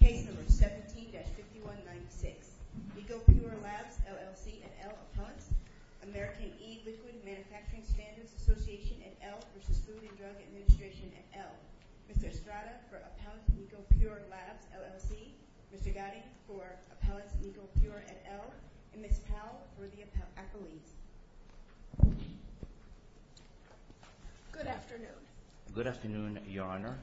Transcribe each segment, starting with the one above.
Case number 17-5196, Nicopure Labs, LLC, et al., Appellants, American E-Liquid Manufacturing Standards Association, et al., v. Food and Drug Administration, et al. Mr. Estrada for Appellants Nicopure Labs, LLC, Mr. Gotti for Appellants Nicopure, et al., and Ms. Powell for the appellees. Good afternoon. Good afternoon, Your Honor.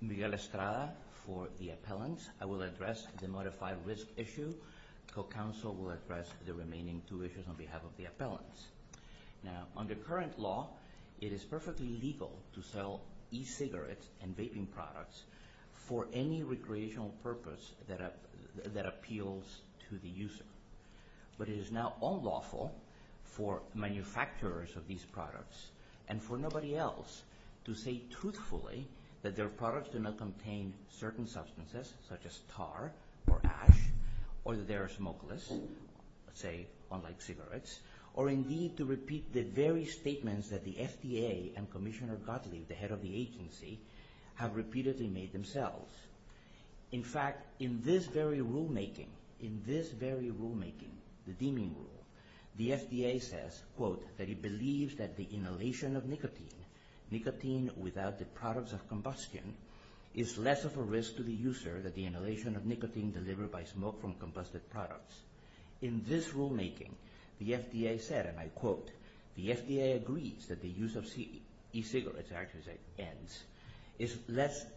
Miguel Estrada for the appellants. I will address the modified risk issue. Co-counsel will address the remaining two issues on behalf of the appellants. Now, under current law, it is perfectly legal to sell e-cigarettes and vaping products for any recreational purpose that appeals to the user. But it is now unlawful for manufacturers of these products and for nobody else to say truthfully that their products do not contain certain substances, such as tar or ash, or that they are smokeless, say, unlike cigarettes, or indeed to repeat the very statements that the FDA and Commissioner Gotti, the head of the agency, have repeatedly made themselves. In fact, in this very rulemaking, in this very rulemaking, the deeming rule, the FDA says, quote, that it believes that the inhalation of nicotine, nicotine without the products of combustion, is less of a risk to the user than the inhalation of nicotine delivered by smoke from combusted products. In this rulemaking, the FDA said, and I quote, the FDA agrees that the use of e-cigarettes, I actually say ends,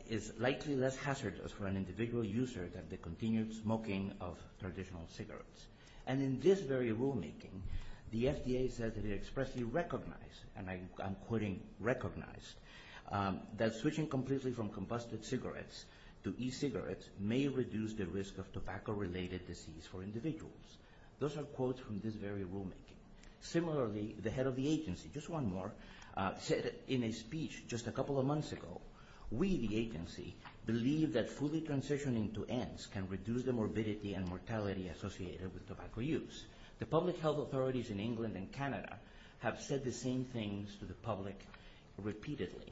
is likely less hazardous for an individual user than the continued smoking of traditional cigarettes. And in this very rulemaking, the FDA says that it expressly recognized, and I'm quoting recognized, that switching completely from combusted cigarettes to e-cigarettes may reduce the risk of tobacco-related disease for individuals. Those are quotes from this very rulemaking. Similarly, the head of the agency, just one more, said in a speech just a couple of months ago, we, the agency, believe that fully transitioning to ends can reduce the morbidity and mortality associated with tobacco use. The public health authorities in England and Canada have said the same things to the public repeatedly.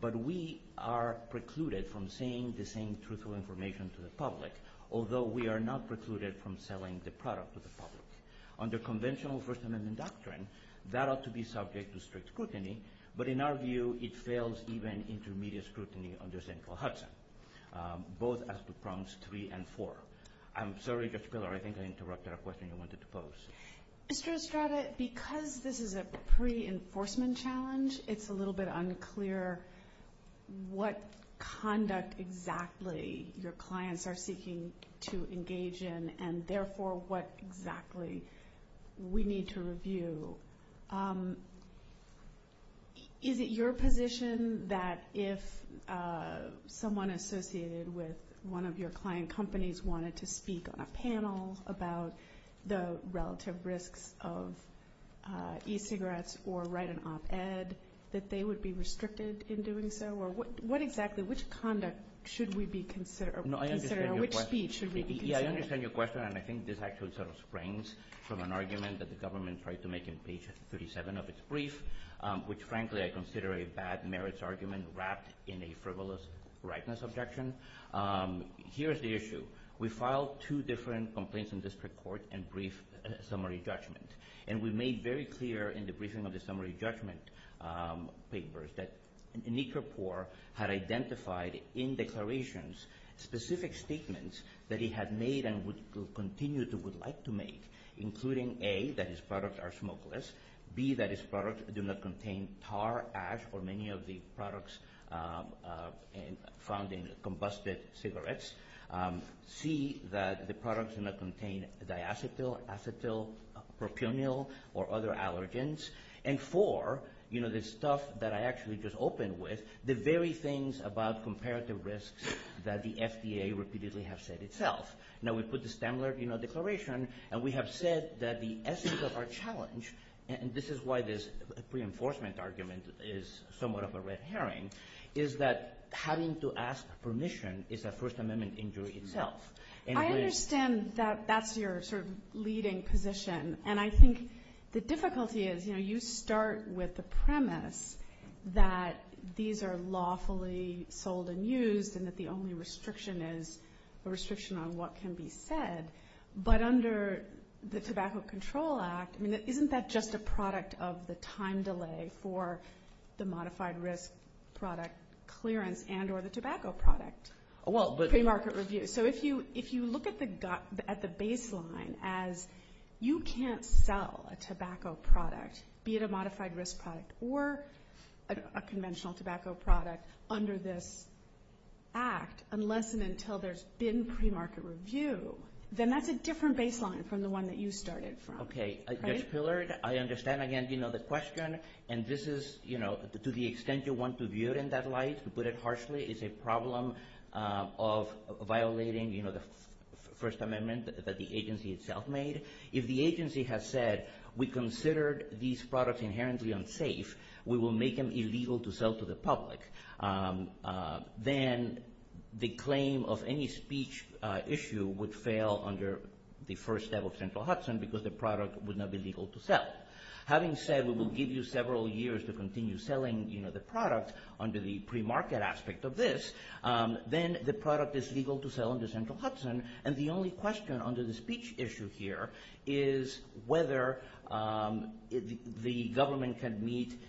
But we are precluded from saying the same truthful information to the public, although we are not precluded from selling the product to the public. Under conventional First Amendment doctrine, that ought to be subject to strict scrutiny, but in our view, it fails even intermediate scrutiny under central Hudson, both as to prompts three and four. I'm sorry, Judge Pillar, I think I interrupted a question you wanted to pose. Mr. Estrada, because this is a pre-enforcement challenge, it's a little bit unclear what conduct exactly your clients are seeking to engage in, and therefore, what exactly we need to review. So is it your position that if someone associated with one of your client companies wanted to speak on a panel about the relative risks of e-cigarettes or write an op-ed, that they would be restricted in doing so? Or what exactly, which conduct should we be considering, or which speech should we be considering? Yeah, I understand your question, and I think this actually sort of springs from an argument that the government tried to make in page 37 of its brief, which frankly I consider a bad merits argument wrapped in a frivolous rightness objection. Here's the issue. We filed two different complaints in district court and briefed summary judgment. And we made very clear in the briefing of the summary judgment papers that Nicopore had identified in declarations specific statements that he had made and would continue to, would like to make, including A, that his products are smokeless. B, that his products do not contain tar, ash, or many of the products found in combusted cigarettes. C, that the products do not contain diacetyl, acetylpropionyl, or other allergens. And four, you know, the stuff that I actually just opened with, the very things about comparative risks that the FDA repeatedly have said itself. Now we put the Standler, you know, declaration, and we have said that the essence of our challenge, and this is why this reinforcement argument is somewhat of a red herring, is that having to ask permission is a First Amendment injury itself. I understand that that's your sort of leading position. And I think the difficulty is, you know, you start with the premise that these are lawfully sold and used and that the only restriction is a restriction on what can be said. But under the Tobacco Control Act, I mean, isn't that just a product of the time delay for the modified risk product clearance and or the tobacco product? Pre-market review. So if you look at the baseline as you can't sell a tobacco product, be it a modified risk product or a conventional tobacco product, under this act, unless and until there's been pre-market review, then that's a different baseline from the one that you started from. Okay. Judge Pillard, I understand, again, you know, the question, and this is, you know, to the extent you want to view it in that light, to put it harshly, it's a problem of violating, you know, the First Amendment that the agency itself made. If the agency has said, we considered these products inherently unsafe, we will make them illegal to sell to the public, then the claim of any speech issue would fail under the first step of Central Hudson because the product would not be legal to sell. Having said, we will give you several years to continue selling, you know, the product under the pre-market aspect of this, then the product is legal to sell under Central Hudson, and the only question under the speech issue here is whether the government can meet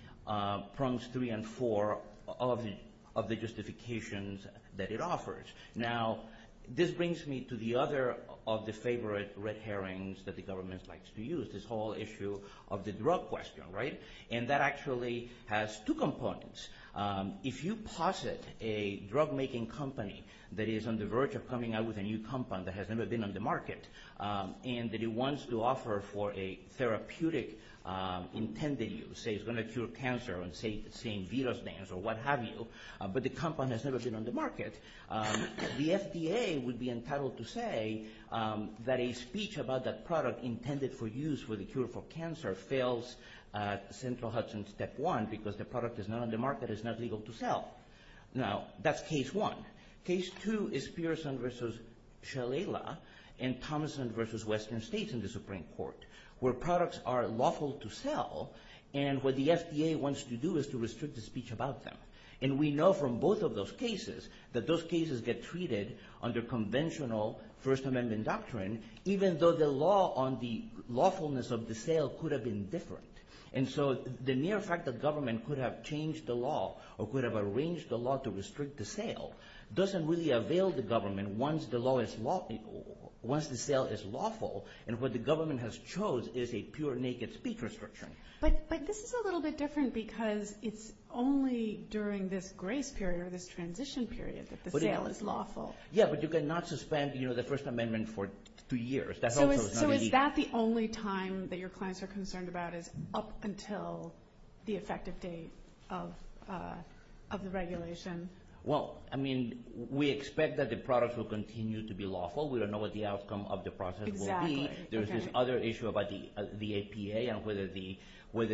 prongs three and four of the justifications that it offers. Now, this brings me to the other of the favorite red herrings that the government likes to use, this whole issue of the drug question, right? And that actually has two components. If you posit a drug-making company that is on the verge of coming out with a new compound that has never been on the market, and that it wants to offer for a therapeutic intended use, say it's going to cure cancer, or say it's seeing Vito's dance, or what have you, but the compound has never been on the market, the FDA would be entitled to say that a speech about that product intended for use for the cure for cancer fails at Central Hudson step one because the product is not on the market. It's not legal to sell. Now, that's case one. Case two is Pearson versus Shalala and Thomason versus Western States in the Supreme Court, where products are lawful to sell, and what the FDA wants to do is to restrict the speech about them. And we know from both of those cases that those cases get treated under conventional First Amendment doctrine, even though the law on the lawfulness of the sale could have been different. And so the mere fact that government could have changed the law or could have arranged the law to restrict the sale doesn't really avail the government once the sale is lawful and what the government has chose is a pure naked speech restriction. But this is a little bit different because it's only during this grace period, this transition period, that the sale is lawful. Yeah, but you cannot suspend the First Amendment for two years. So is that the only time that your clients are concerned about is up until the effective date of the regulation? Well, I mean, we expect that the products will continue to be lawful. We don't know what the outcome of the process will be. Exactly. There's this other issue about the APA and whether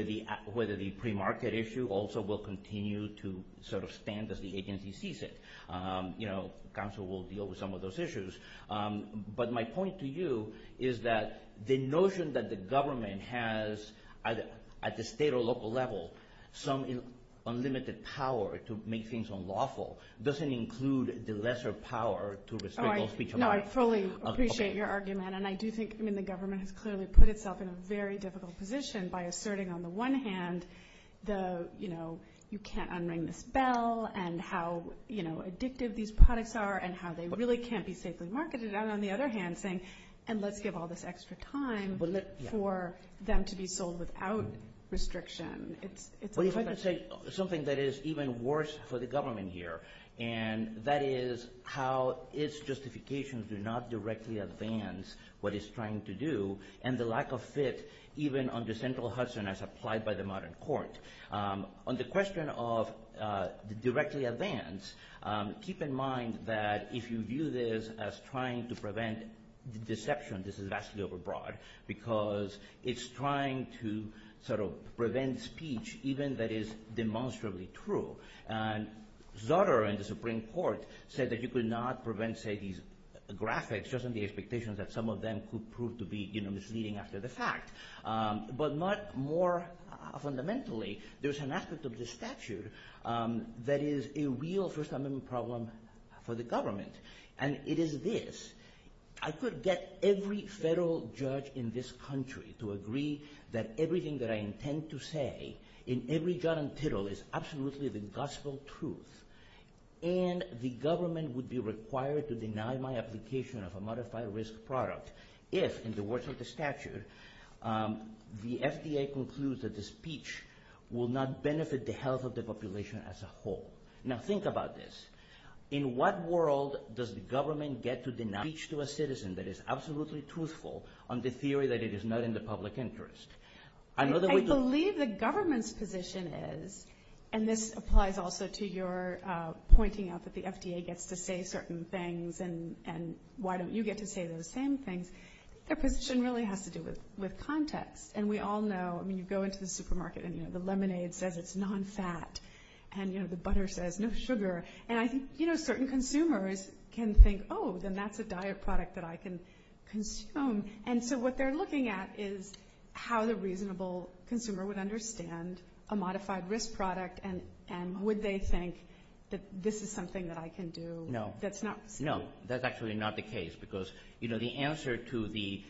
the premarket issue also will continue to sort of stand as the agency sees it. Council will deal with some of those issues. But my point to you is that the notion that the government has, at the state or local level, some unlimited power to make things unlawful doesn't include the lesser power to restrict speech about it. So I fully appreciate your argument, and I do think the government has clearly put itself in a very difficult position by asserting on the one hand the, you know, you can't unring this bell and how, you know, addictive these products are and how they really can't be safely marketed. And on the other hand saying, and let's give all this extra time for them to be sold without restriction. Well, if I could say something that is even worse for the government here, and that is how its justifications do not directly advance what it's trying to do and the lack of fit even under central Hudson as applied by the modern court. On the question of directly advance, keep in mind that if you view this as trying to prevent deception, this is vastly over broad, because it's trying to sort of prevent speech even that is demonstrably true. And Sutter in the Supreme Court said that you could not prevent, say, these graphics just on the expectations that some of them could prove to be, you know, misleading after the fact. But more fundamentally, there's an aspect of the statute that is a real first amendment problem for the government. And it is this. I could get every federal judge in this country to agree that everything that I intend to say in every jot and tittle is absolutely the gospel truth. And the government would be required to deny my application of a modified risk product if, in the words of the statute, the FDA concludes that the speech will not benefit the health of the population as a whole. Now think about this. In what world does the government get to deny speech to a citizen that is absolutely truthful on the theory that it is not in the public interest? I believe the government's position is, and this applies also to your pointing out that the FDA gets to say certain things and why don't you get to say those same things. Their position really has to do with context. And we all know, I mean, you go into the supermarket and, you know, the lemonade says it's nonfat and, you know, the butter says no sugar. And I think, you know, certain consumers can think, oh, then that's a diet product that I can consume. And so what they're looking at is how the reasonable consumer would understand a modified risk product and would they think that this is something that I can do. No, that's actually not the case because, you know, the answer to the,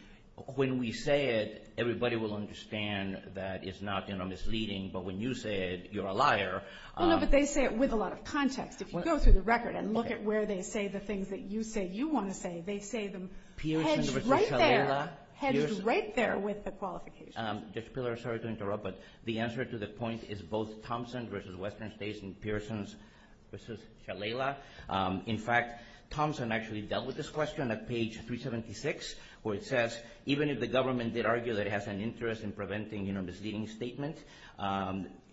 when we say it, everybody will understand that it's not, you know, misleading. But when you say it, you're a liar. Well, no, but they say it with a lot of context. If you go through the record and look at where they say the things that you say you want to say, they say them hedged right there. Hedged right there with the qualification. Judge Pillar, sorry to interrupt, but the answer to the point is both Thompson versus Western States and Pearsons versus Shalala. In fact, Thompson actually dealt with this question at page 376, where it says, even if the government did argue that it has an interest in preventing, you know, misleading statement,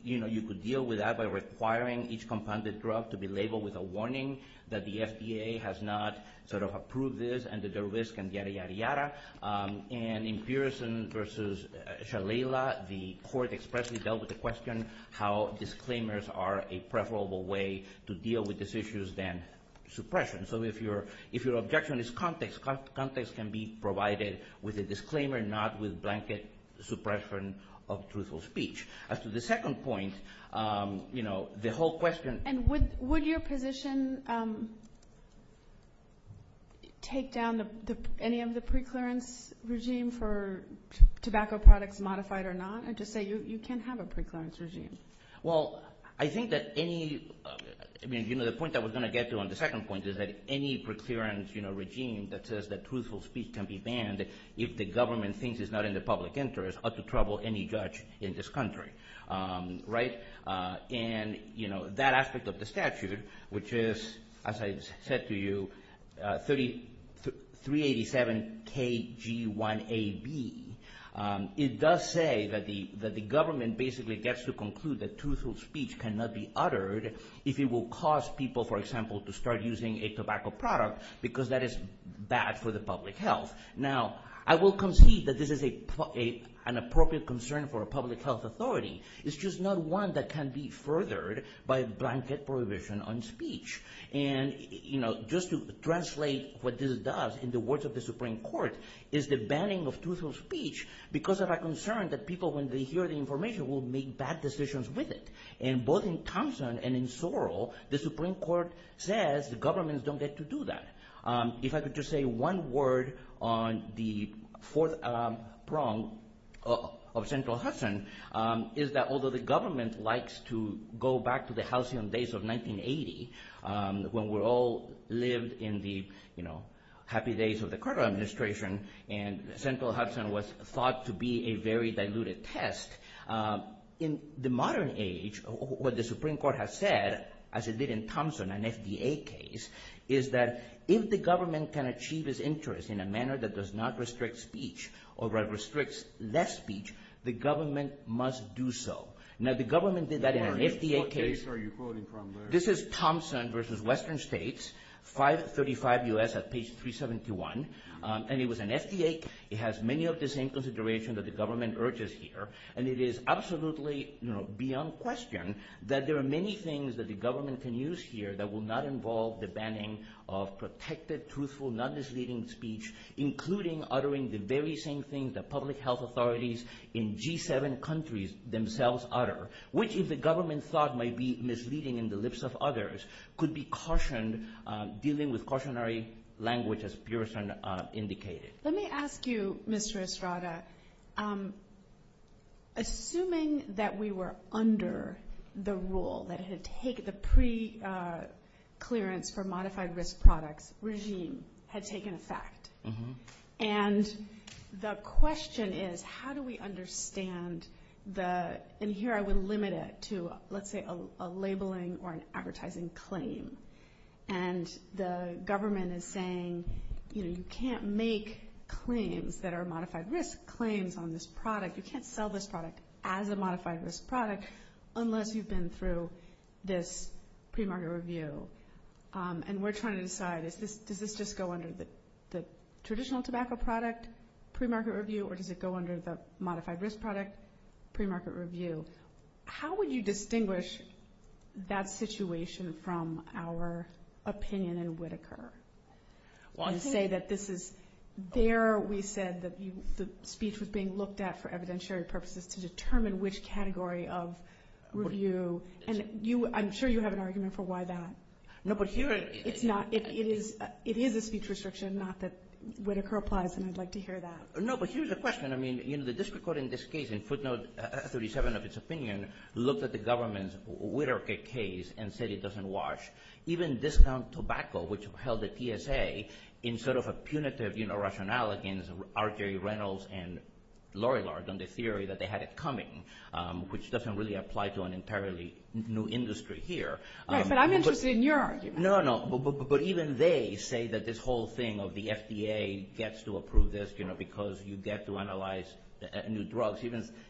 you know, you could deal with that by requiring each compounded drug to be labeled with a warning that the FDA has not sort of approved this and that there are risks and yada, yada, yada. And in Pearsons versus Shalala, the court expressly dealt with the question how disclaimers are a preferable way to deal with these issues than suppression. So if your objection is context, context can be provided with a disclaimer, not with blanket suppression of truthful speech. As to the second point, you know, the whole question... And would your position take down any of the preclearance regime for tobacco products modified or not? Or just say you can't have a preclearance regime? Well, I think that any, I mean, you know, the point that we're going to get to on the second point is that any preclearance, you know, regime that says that truthful speech can be banned if the government thinks it's not in the public interest or to trouble any judge in this country, right? And, you know, that aspect of the statute, which is, as I said to you, 387KG1AB, it does say that the government basically gets to conclude that truthful speech cannot be uttered if it will cause people, for example, to start using a tobacco product because that is bad for the public health. Now, I will concede that this is an appropriate concern for a public health authority. It's just not one that can be furthered by blanket prohibition on speech. And, you know, just to translate what this does in the words of the Supreme Court, is the banning of truthful speech because of a concern that people, when they hear the information, will make bad decisions with it. And both in Thompson and in Sorrell, the Supreme Court says the governments don't get to do that. If I could just say one word on the fourth prong of Central Hudson, is that although the government likes to go back to the halcyon days of 1980, when we all lived in the, you know, happy days of the Carter administration, and Central Hudson was thought to be a very diluted test, in the modern age, what the Supreme Court has said, as it did in Thompson, an FDA case, is that if the government can achieve its interest in a manner that does not restrict speech or restricts less speech, the government must do so. Now, the government did that in an FDA case. What case are you quoting from there? This is Thompson versus Western States, 535 U.S. at page 371. And it was an FDA case. It has many of the same considerations that the government urges here. And it is absolutely, you know, beyond question that there are many things that the government can use here that will not involve the banning of protected, truthful, non-misleading speech, including uttering the very same things that public health authorities in G7 countries themselves utter, which, if the government thought might be misleading in the lips of others, could be cautioned, dealing with cautionary language, as Pearson indicated. Let me ask you, Mr. Estrada, assuming that we were under the rule, that the pre-clearance for modified risk products regime had taken effect, and the question is, how do we understand the, and here I would limit it to, let's say, a labeling or an advertising claim, and the government is saying, you know, you can't make claims that are modified risk claims on this product. You can't sell this product as a modified risk product unless you've been through this pre-market review. And we're trying to decide, does this just go under the traditional tobacco product pre-market review, or does it go under the modified risk product pre-market review? How would you distinguish that situation from our opinion in Whitaker? To say that this is, there we said that the speech was being looked at for evidentiary purposes to determine which category of review, and I'm sure you have an argument for why that. It is a speech restriction, not that Whitaker applies, and I'd like to hear that. No, but here's the question. I mean, you know, the district court in this case, in footnote 37 of its opinion, looked at the government's Whitaker case and said it doesn't wash. Even discount tobacco, which held the TSA in sort of a punitive, you know, rationale against R.J. Reynolds and Lori Lard on the theory that they had it coming, which doesn't really apply to an entirely new industry here. Right, but I'm interested in your argument. No, no, but even they say that this whole thing of the FDA gets to approve this, you know, because you get to analyze new drugs.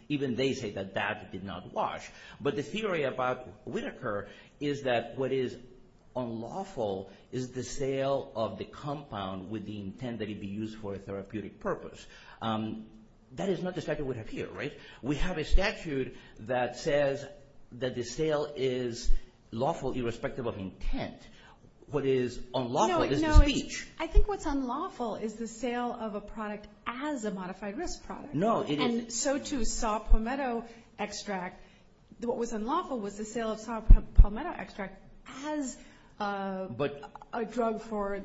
Even they say that that did not wash. But the theory about Whitaker is that what is unlawful is the sale of the compound with the intent that it be used for a therapeutic purpose. That is not the statute we have here, right? We have a statute that says that the sale is lawful irrespective of intent. What is unlawful is the speech. I think what's unlawful is the sale of a product as a modified risk product. No, it isn't. And so, too, saw palmetto extract. What was unlawful was the sale of saw palmetto extract as a drug for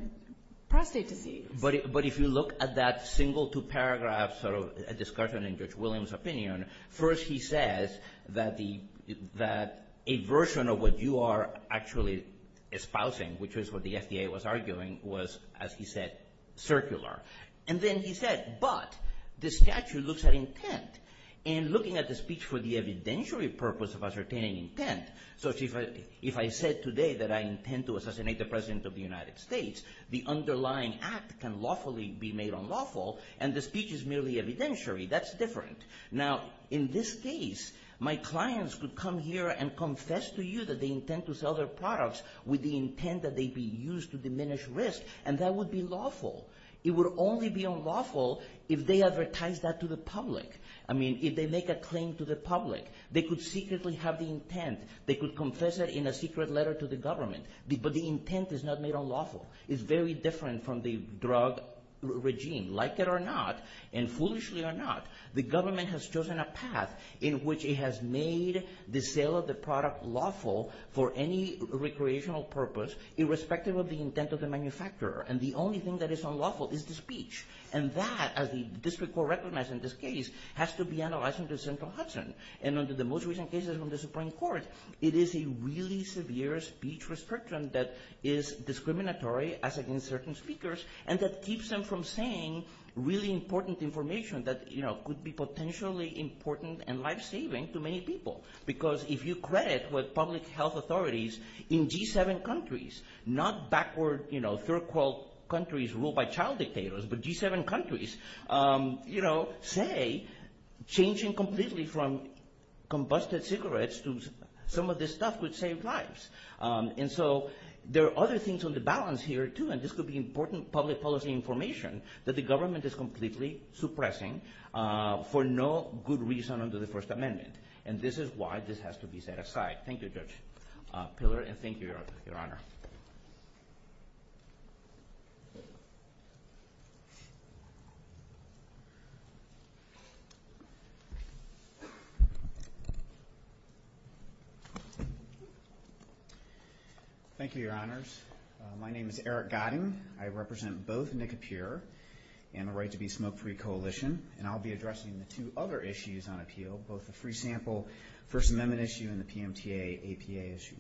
prostate disease. But if you look at that single two-paragraph sort of discussion in Judge Williams' opinion, first he says that a version of what you are actually espousing, which is what the FDA was arguing, was, as he said, circular. And then he said, but the statute looks at intent. And looking at the speech for the evidentiary purpose of ascertaining intent, so if I said today that I intend to assassinate the President of the United States, the underlying act can lawfully be made unlawful, and the speech is merely evidentiary. That's different. Now, in this case, my clients could come here and confess to you that they intend to sell their products with the intent that they be used to diminish risk, and that would be lawful. It would only be unlawful if they advertise that to the public. I mean, if they make a claim to the public. They could secretly have the intent. They could confess it in a secret letter to the government, but the intent is not made unlawful. It's very different from the drug regime. Like it or not, and foolishly or not, the government has chosen a path in which it has made the sale of the product lawful for any recreational purpose, irrespective of the intent of the manufacturer. And the only thing that is unlawful is the speech. And that, as the district court recognized in this case, has to be analyzed under central Hudson. And under the most recent cases from the Supreme Court, it is a really severe speech restriction that is discriminatory, as against certain speakers, and that keeps them from saying really important information that, you know, could be potentially important and life-saving to many people. Because if you credit what public health authorities in G7 countries, not backward, you know, third-world countries ruled by child dictators, but G7 countries, you know, say changing completely from combusted cigarettes to some of this stuff would save lives. And so there are other things on the balance here, too, and this could be important public policy information that the government is completely suppressing for no good reason under the First Amendment. And this is why this has to be set aside. Thank you, Judge Pillard, and thank you, Your Honor. Thank you, Your Honors. My name is Eric Gotting. I represent both NICAPIR and the Right to Be Smoke-Free Coalition, and I'll be addressing the two other issues on appeal, both the free sample First Amendment issue and the PMTA-APA issue.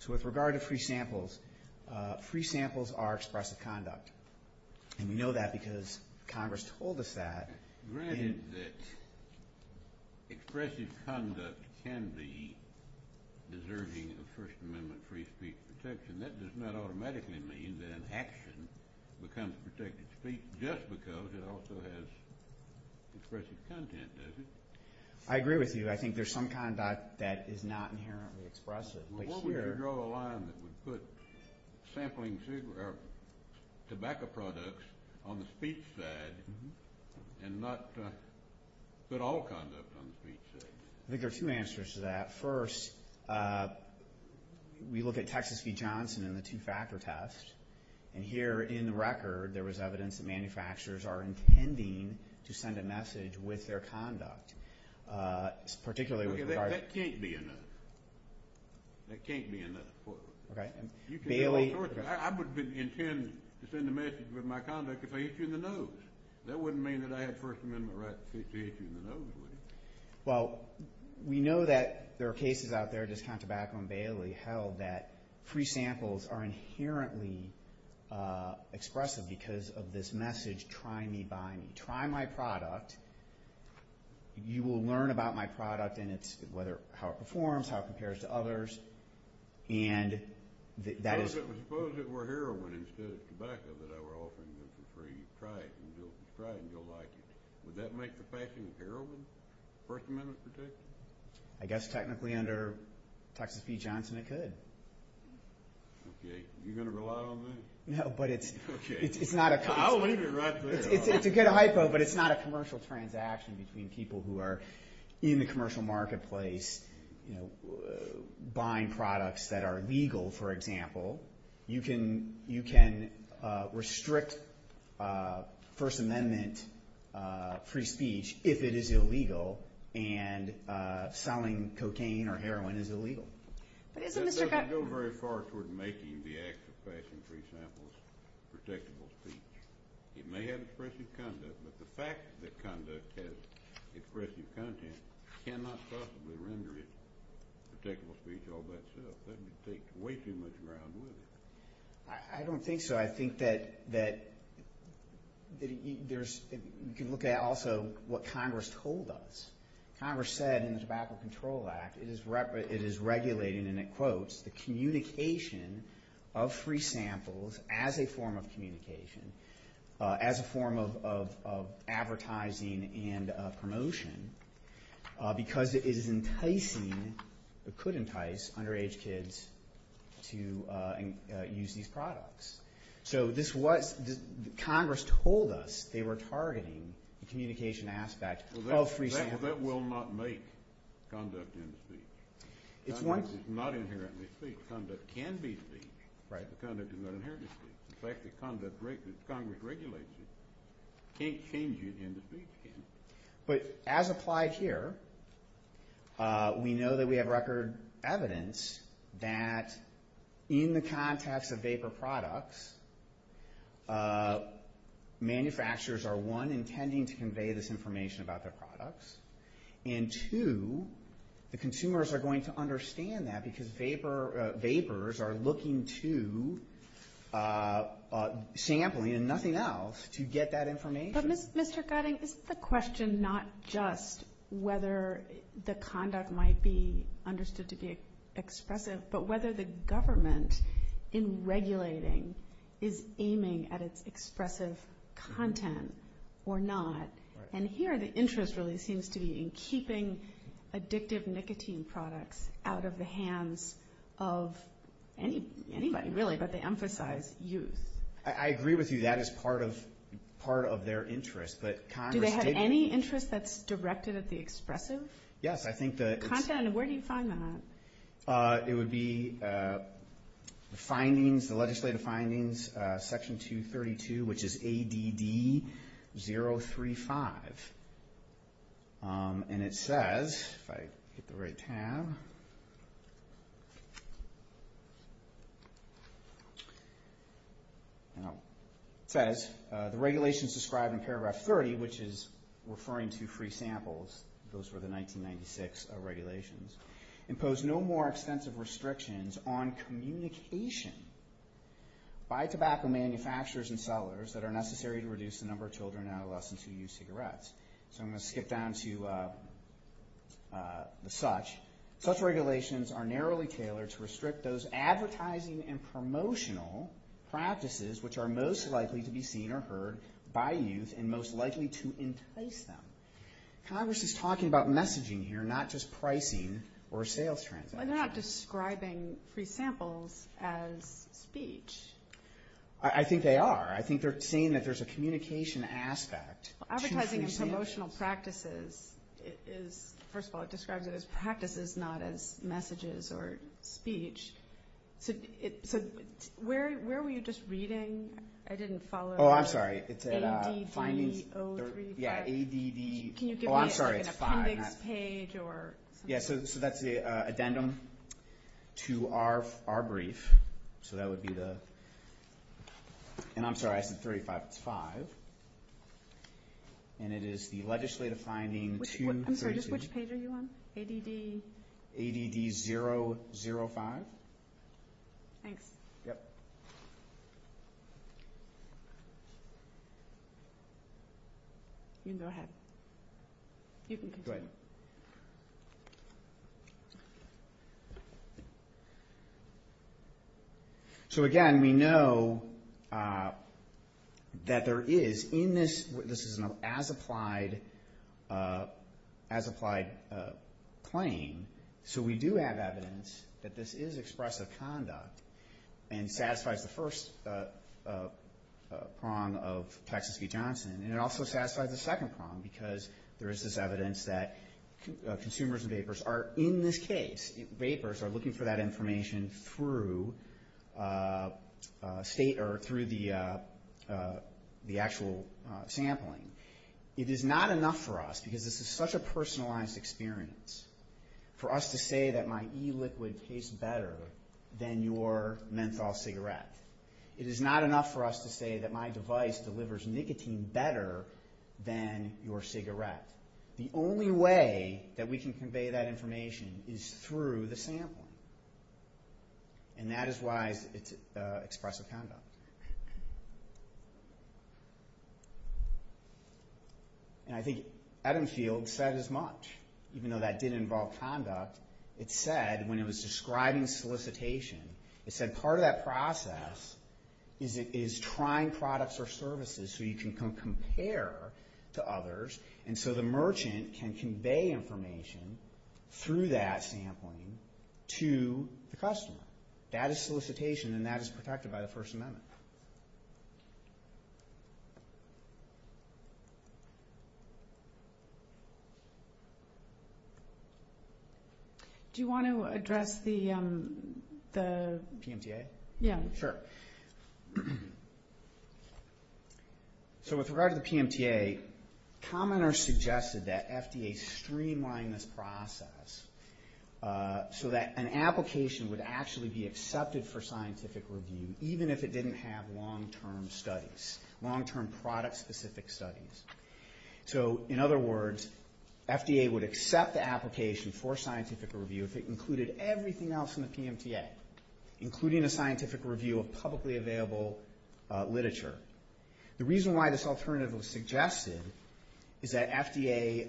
So with regard to free samples, free samples are expressive conduct, and we know that because Congress told us that. Granted that expressive conduct can be deserving of First Amendment free speech protection, that does not automatically mean that an action becomes protected speech just because it also has expressive content, does it? I agree with you. I think there's some conduct that is not inherently expressive. What would you draw a line that would put tobacco products on the speech side and not put all conduct on the speech side? I think there are two answers to that. First, we look at Texas v. Johnson and the two-factor test, and here in the record there was evidence that manufacturers are intending to send a message with their conduct, particularly with regard to That can't be enough. That can't be enough. Okay. I wouldn't intend to send a message with my conduct if I hit you in the nose. That wouldn't mean that I had First Amendment rights to hit you in the nose, would it? Well, we know that there are cases out there, just count tobacco and Bailey, held that free samples are inherently expressive because of this message, Try me, buy me. Try my product. You will learn about my product and how it performs, how it compares to others, and that is Suppose it were heroin instead of tobacco that I were offering you for free. Try it and you'll like it. Would that make the passing of heroin, First Amendment protection? I guess technically under Texas v. Johnson it could. Okay. You're going to rely on me? No, but it's not a I'll leave it right there. It's a good hypo, but it's not a commercial transaction between people who are in the commercial marketplace buying products that are legal, for example. You can restrict First Amendment free speech if it is illegal and selling cocaine or heroin is illegal. But isn't Mr. That doesn't go very far toward making the act of passing free samples protectable speech. It may have expressive conduct, but the fact that conduct has expressive content cannot possibly render it protectable speech all by itself. That would take way too much ground, wouldn't it? I don't think so. I think that you can look at also what Congress told us. Congress said in the Tobacco Control Act it is regulating, and it quotes, the communication of free samples as a form of communication, as a form of advertising and promotion, because it is enticing, or could entice, underage kids to use these products. So this was, Congress told us they were targeting the communication aspect of free samples. Well, that will not make conduct into speech. It's one Conduct is not inherently speech. Conduct can be speech. Right. Conduct is not inherently speech. The fact that Congress regulates it can't change it into speech, can it? But as applied here, we know that we have record evidence that in the context of vapor products, manufacturers are, one, intending to convey this information about their products, and two, the consumers are going to understand that because vapors are looking to sampling and nothing else to get that information. But, Mr. Gutting, isn't the question not just whether the conduct might be understood to be expressive, but whether the government in regulating is aiming at its expressive content or not? And here the interest really seems to be in keeping addictive nicotine products out of the hands of anybody, really, but they emphasize youth. I agree with you. That is part of their interest, but Congress didn't Do they have any interest that's directed at the expressive? Yes, I think the Content, and where do you find that? It would be the findings, the legislative findings, Section 232, which is ADD 035, and it says, if I hit the right tab, it says, the regulations described in paragraph 30, which is referring to free samples, those were the 1996 regulations, impose no more extensive restrictions on communication by tobacco manufacturers and sellers that are necessary to reduce the number of children and adolescents who use cigarettes. So I'm going to skip down to the such. Such regulations are narrowly tailored to restrict those advertising and promotional practices which are most likely to be seen or heard by youth and most likely to entice them. Congress is talking about messaging here, not just pricing or sales transactions. They're not describing free samples as speech. I think they are. I think they're saying that there's a communication aspect to free samples. Well, advertising and promotional practices is, first of all, it describes it as practices, not as messages or speech. So where were you just reading? I didn't follow. Oh, I'm sorry. ADD 035. Yeah, ADD. Can you give me an appendix page or something? Yeah, so that's the addendum to our brief. So that would be the ñ and I'm sorry, I said 35. It's five. And it is the legislative finding 236. I'm sorry, just which page are you on? ADD? ADD 005. Thanks. Yep. You can go ahead. You can go ahead. So, again, we know that there is in this ñ this is an as-applied claim. So we do have evidence that this is expressive conduct and satisfies the first prong of Texas v. Johnson. And it also satisfies the second prong, because there is this evidence that consumers of vapors are, in this case, vapors are looking for that information through the actual sampling. It is not enough for us, because this is such a personalized experience, for us to say that my e-liquid tastes better than your menthol cigarette. It is not enough for us to say that my device delivers nicotine better than your cigarette. The only way that we can convey that information is through the sampling. And that is why it's expressive conduct. And I think Adam Field said as much. Even though that did involve conduct, it said, when it was describing solicitation, it said part of that process is trying products or services so you can compare to others. And so the merchant can convey information through that sampling to the customer. That is solicitation, and that is protected by the First Amendment. Thank you. Do you want to address the... PMTA? Yeah. Sure. So with regard to the PMTA, commoners suggested that FDA streamline this process so that an application would actually be accepted for scientific review, even if it didn't have long-term studies, long-term product-specific studies. So in other words, FDA would accept the application for scientific review if it included everything else in the PMTA, including a scientific review of publicly available literature. The reason why this alternative was suggested is that FDA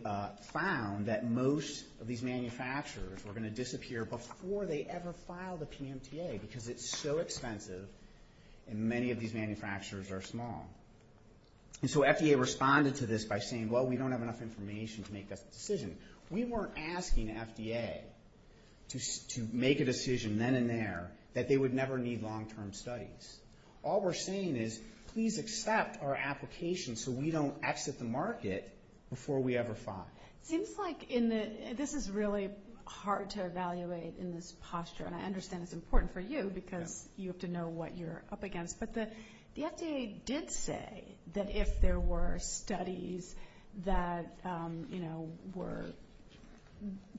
found that most of these manufacturers were going to disappear before they ever filed a PMTA because it's so expensive and many of these manufacturers are small. And so FDA responded to this by saying, well, we don't have enough information to make this decision. We weren't asking FDA to make a decision then and there that they would never need long-term studies. All we're saying is, please accept our application so we don't exit the market before we ever file. Seems like this is really hard to evaluate in this posture, and I understand it's important for you because you have to know what you're up against. But the FDA did say that if there were studies that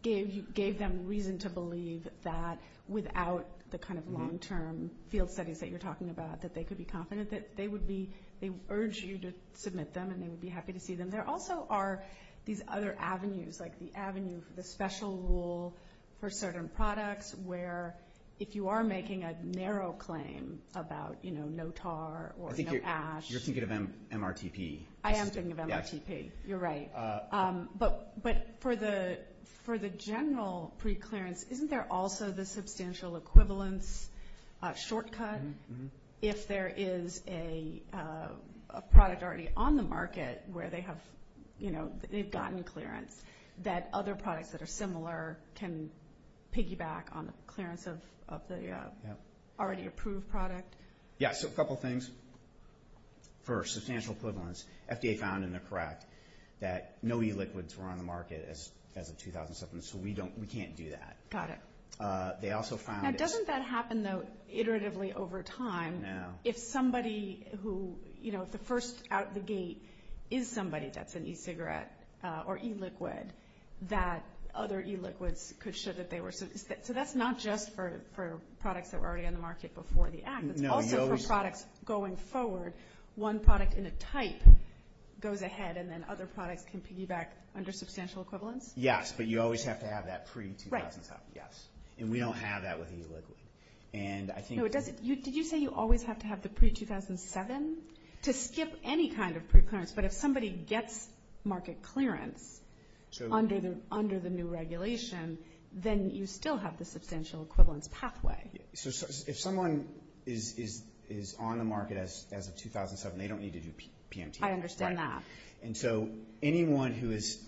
gave them reason to believe that without the kind of long-term field studies that you're talking about, that they could be confident that they would urge you to submit them and they would be happy to see them. There also are these other avenues, like the avenue for the special rule for certain products where if you are making a narrow claim about, you know, no tar or no ash. I think you're thinking of MRTP. I am thinking of MRTP. You're right. But for the general preclearance, isn't there also the substantial equivalence shortcut if there is a product already on the market where they've gotten clearance that other products that are similar can piggyback on the clearance of the already approved product? Yeah, so a couple things. First, substantial equivalence. FDA found, and they're correct, that no e-liquids were on the market as of 2007, so we can't do that. Got it. Now, doesn't that happen, though, iteratively over time? No. If somebody who, you know, if the first out of the gate is somebody that's an e-cigarette or e-liquid, that other e-liquids could show that they were. So that's not just for products that were already on the market before the Act. It's also for products going forward. One product in a type goes ahead and then other products can piggyback under substantial equivalence? Yes, but you always have to have that pre-2007. And we don't have that with e-liquid. Did you say you always have to have the pre-2007 to skip any kind of preclearance? But if somebody gets market clearance under the new regulation, then you still have the substantial equivalence pathway. So if someone is on the market as of 2007, they don't need to do PMT. I understand that. And so anyone who is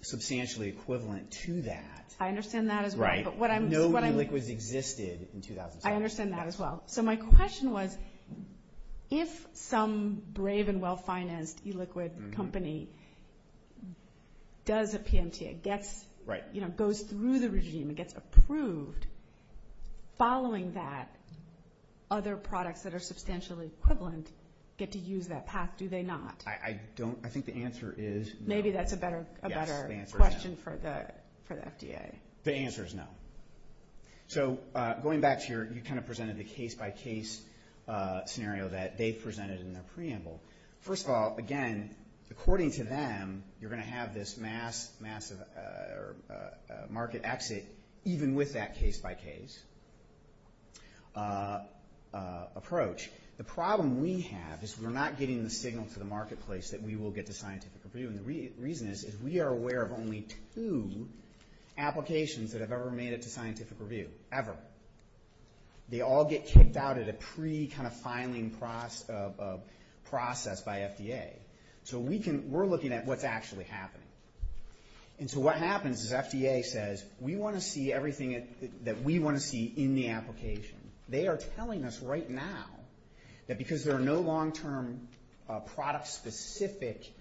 substantially equivalent to that. I understand that as well. But no e-liquids existed in 2007. I understand that as well. So my question was, if some brave and well-financed e-liquid company does a PMT, it goes through the regime, it gets approved, following that, other products that are substantially equivalent get to use that path. Do they not? I don't. I think the answer is no. Maybe that's a better question for the FDA. The answer is no. So going back to your, you kind of presented the case-by-case scenario that they presented in their preamble. First of all, again, according to them, you're going to have this massive market exit even with that case-by-case approach. The problem we have is we're not getting the signal to the marketplace that we will get to scientific review. And the reason is we are aware of only two applications that have ever made it to scientific review, ever. They all get kicked out at a pre-filing process by FDA. So we're looking at what's actually happening. And so what happens is FDA says, we want to see everything that we want to see in the application. They are telling us right now that because there are no long-term product-specific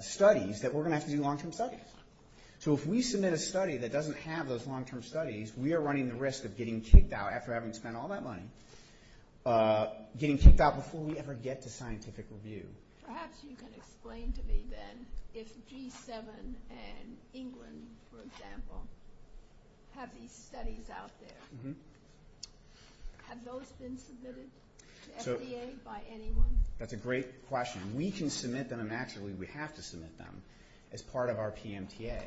studies, that we're going to have to do long-term studies. So if we submit a study that doesn't have those long-term studies, we are running the risk of getting kicked out after having spent all that money, getting kicked out before we ever get to scientific review. Perhaps you can explain to me then if G7 and England, for example, have these studies out there. Have those been submitted to FDA by anyone? That's a great question. We can submit them. Actually, we have to submit them as part of our PMTA.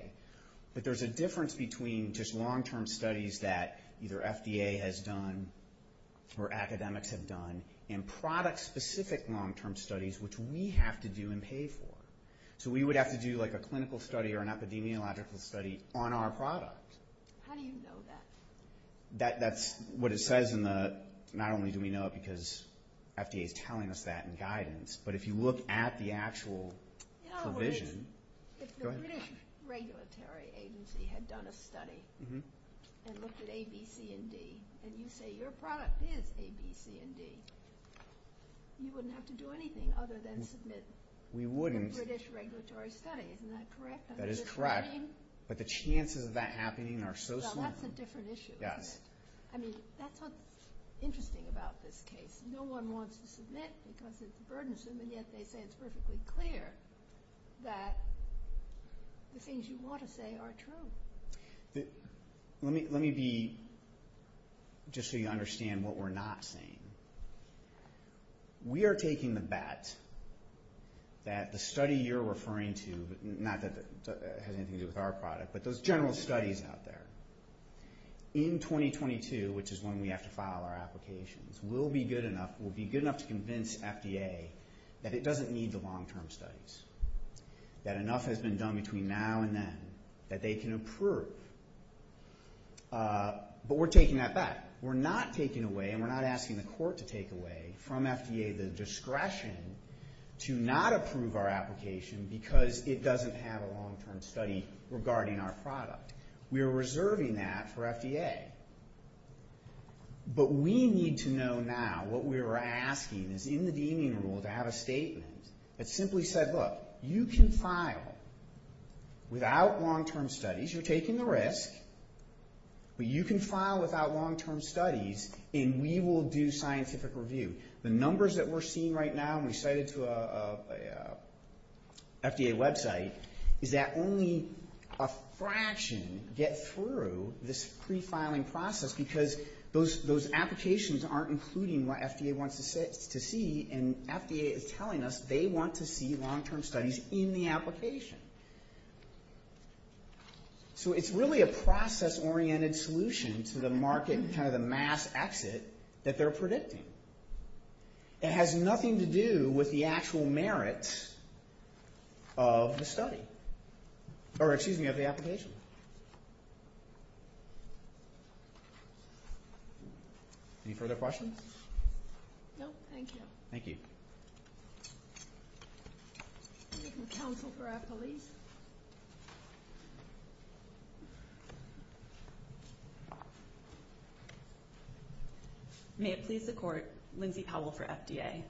But there's a difference between just long-term studies that either FDA has done or academics have done and product-specific long-term studies, which we have to do and pay for. So we would have to do like a clinical study or an epidemiological study on our product. How do you know that? That's what it says in the, not only do we know it because FDA is telling us that in guidance, but if you look at the actual provision. If the British regulatory agency had done a study and looked at A, B, C, and D, and you say your product is A, B, C, and D, you wouldn't have to do anything other than submit. We wouldn't. The British regulatory study. Isn't that correct? That is correct. But the chances of that happening are so slim. Well, that's a different issue. Yes. I mean, that's what's interesting about this case. No one wants to submit because it's burdensome, and yet they say it's perfectly clear that the things you want to say are true. Let me be, just so you understand what we're not saying. We are taking the bet that the study you're referring to, not that it has anything to do with our product, but those general studies out there, in 2022, which is when we have to file our applications, will be good enough to convince FDA that it doesn't need the long-term studies, that enough has been done between now and then that they can approve. But we're taking that bet. We're not taking away, and we're not asking the court to take away from FDA the discretion to not approve our application because it doesn't have a long-term study regarding our product. We are reserving that for FDA. But we need to know now what we are asking is in the deeming rule to have a statement that simply said, look, you can file without long-term studies. You're taking the risk, but you can file without long-term studies, and we will do scientific review. The numbers that we're seeing right now, and we cited to a FDA website, is that only a fraction get through this pre-filing process because those applications aren't including what FDA wants to see, and FDA is telling us they want to see long-term studies in the application. So it's really a process-oriented solution to the market, kind of the mass exit that they're predicting. It has nothing to do with the actual merits of the application. Any further questions? No? Thank you. Thank you. We have a counsel for our police. May it please the court, Lindsay Powell for FDA.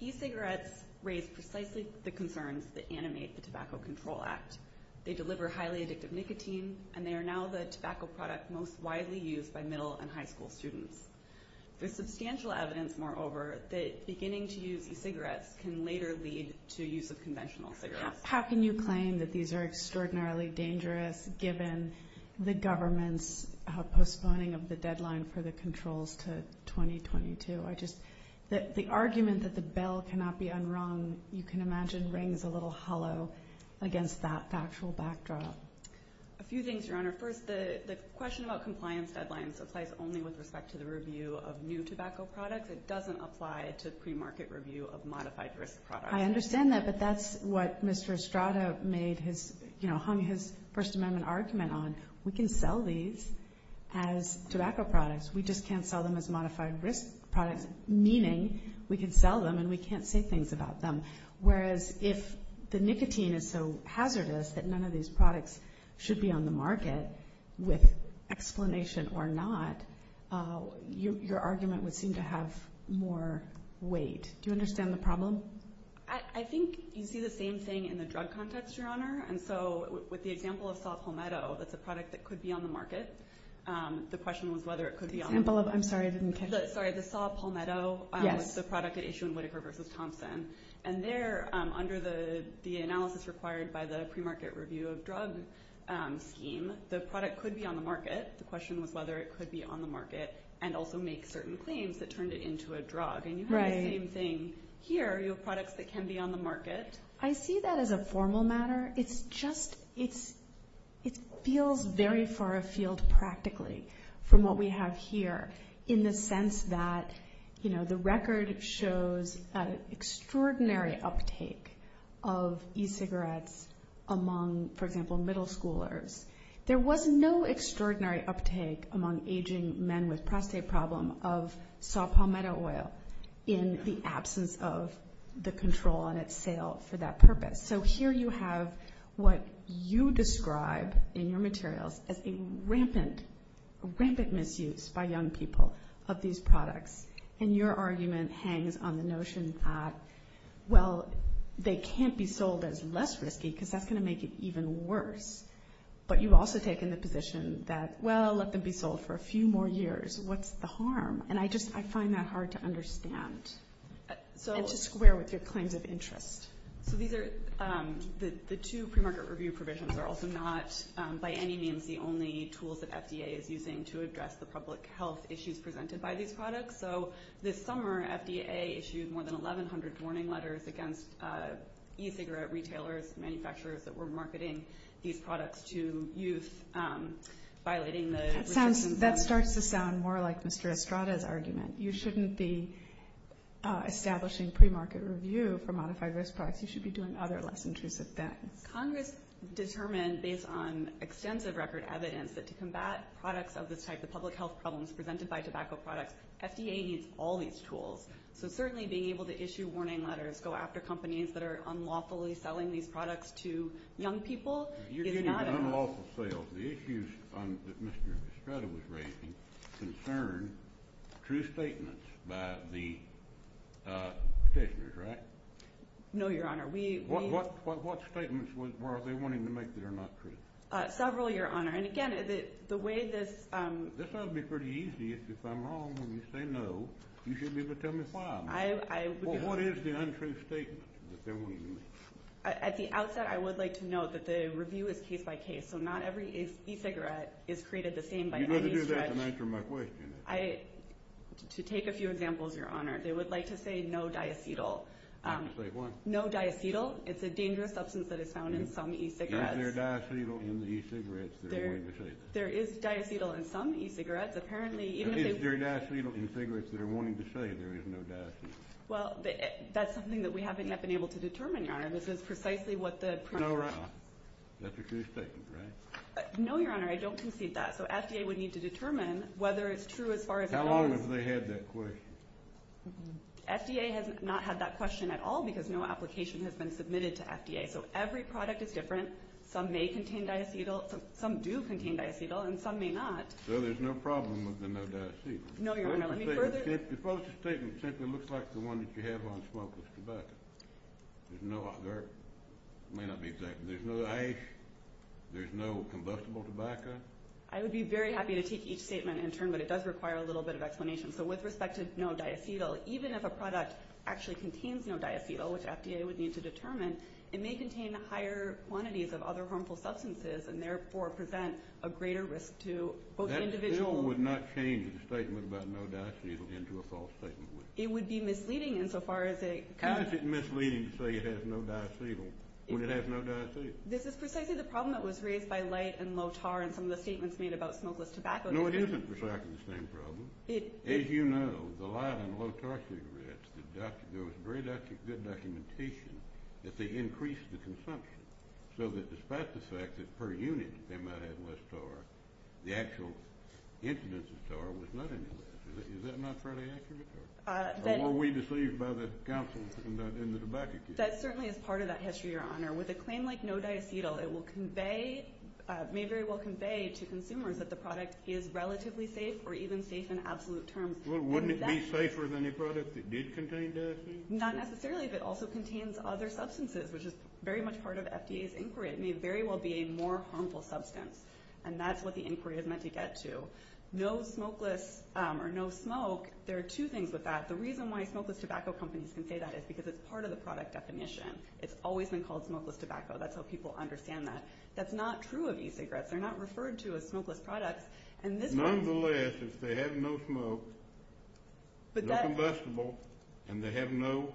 E-cigarettes raise precisely the concerns that animate the Tobacco Control Act. They deliver highly addictive nicotine, and they are now the tobacco product most widely used by middle and high school students. There's substantial evidence, moreover, that beginning to use e-cigarettes can later lead to use of conventional cigarettes. How can you claim that these are extraordinarily dangerous, given the government's postponing of the deadline for the controls to 2022? The argument that the bell cannot be unrung, you can imagine rings a little hollow against that factual backdrop. A few things, Your Honor. First, the question about compliance deadlines applies only with respect to the review of new tobacco products. It doesn't apply to pre-market review of modified risk products. I understand that, but that's what Mr. Estrada hung his First Amendment argument on. We can sell these as tobacco products. We just can't sell them as modified risk products, meaning we can sell them and we can't say things about them. Whereas if the nicotine is so hazardous that none of these products should be on the market, with explanation or not, your argument would seem to have more weight. Do you understand the problem? I think you see the same thing in the drug context, Your Honor. And so with the example of saw palmetto, that's a product that could be on the market. The question was whether it could be on the market. I'm sorry, I didn't catch that. Sorry, the saw palmetto is the product at issue in Whitaker v. Thompson. And there, under the analysis required by the pre-market review of drug scheme, the product could be on the market. The question was whether it could be on the market and also make certain claims that turned it into a drug. And you have the same thing here. You have products that can be on the market. I see that as a formal matter. It's just it feels very far afield practically from what we have here in the sense that, you know, the record shows an extraordinary uptake of e-cigarettes among, for example, middle schoolers. There was no extraordinary uptake among aging men with prostate problem of saw palmetto oil in the absence of the control on its sale for that purpose. So here you have what you describe in your materials as a rampant, rampant misuse by young people of these products. And your argument hangs on the notion that, well, they can't be sold as less risky because that's going to make it even worse. But you've also taken the position that, well, let them be sold for a few more years. What's the harm? And I just find that hard to understand and to square with your claims of interest. So these are the two premarket review provisions are also not by any means the only tools that FDA is using to address the public health issues presented by these products. So this summer FDA issued more than 1,100 warning letters against e-cigarette retailers, manufacturers that were marketing these products to youth, violating the restrictions. That starts to sound more like Mr. Estrada's argument. You shouldn't be establishing premarket review for modified risk products. You should be doing other less intrusive things. Congress determined, based on extensive record evidence, that to combat products of this type, the public health problems presented by tobacco products, FDA needs all these tools. So certainly being able to issue warning letters, go after companies that are unlawfully selling these products to young people is not enough. You're getting unlawful sales. The issues that Mr. Estrada was raising concern true statements by the petitioners, right? No, Your Honor. What statements were they wanting to make that are not true? Several, Your Honor. And again, the way this— This ought to be pretty easy. If I'm wrong and you say no, you should be able to tell me why. Well, what is the untrue statement that they're wanting to make? At the outset, I would like to note that the review is case by case, so not every e-cigarette is created the same by any stretch. You'd better do that and answer my question. To take a few examples, Your Honor, they would like to say no diacetyl. Say what? No diacetyl. It's a dangerous substance that is found in some e-cigarettes. Is there diacetyl in the e-cigarettes that are wanting to say that? There is diacetyl in some e-cigarettes. Apparently, even if they— Is there diacetyl in cigarettes that are wanting to say there is no diacetyl? Well, that's something that we haven't yet been able to determine, Your Honor. This is precisely what the— That's a true statement, right? No, Your Honor, I don't concede that. So FDA would need to determine whether it's true as far as it goes. How long have they had that question? FDA has not had that question at all because no application has been submitted to FDA. So every product is different. Some may contain diacetyl, some do contain diacetyl, and some may not. So there's no problem with the no diacetyl? No, Your Honor. Let me further— The false statement simply looks like the one that you have on smokeless tobacco. There may not be exact— There's no ash, there's no combustible tobacco. I would be very happy to take each statement in turn, but it does require a little bit of explanation. So with respect to no diacetyl, even if a product actually contains no diacetyl, which FDA would need to determine, it may contain higher quantities of other harmful substances and therefore present a greater risk to both individual— That still would not change the statement about no diacetyl into a false statement, would it? It would be misleading insofar as it— How is it misleading to say it has no diacetyl when it has no diacetyl? This is precisely the problem that was raised by Light and Lotar in some of the statements made about smokeless tobacco. No, it isn't precisely the same problem. As you know, the Light and Lotar cigarettes, there was very good documentation that they increased the consumption so that despite the fact that per unit they might have less tar, the actual incidence of tar was not any less. Is that not fairly accurate? Or were we deceived by the counsel in the tobacco case? That certainly is part of that history, Your Honor. With a claim like no diacetyl, it may very well convey to consumers that the product is relatively safe or even safe in absolute terms. Wouldn't it be safer than a product that did contain diacetyl? Not necessarily, but it also contains other substances, which is very much part of FDA's inquiry. It may very well be a more harmful substance, and that's what the inquiry is meant to get to. No smokeless or no smoke, there are two things with that. The reason why smokeless tobacco companies can say that is because it's part of the product definition. It's always been called smokeless tobacco. That's how people understand that. That's not true of e-cigarettes. They're not referred to as smokeless products. Nonetheless, if they have no smoke, no combustible, and they have no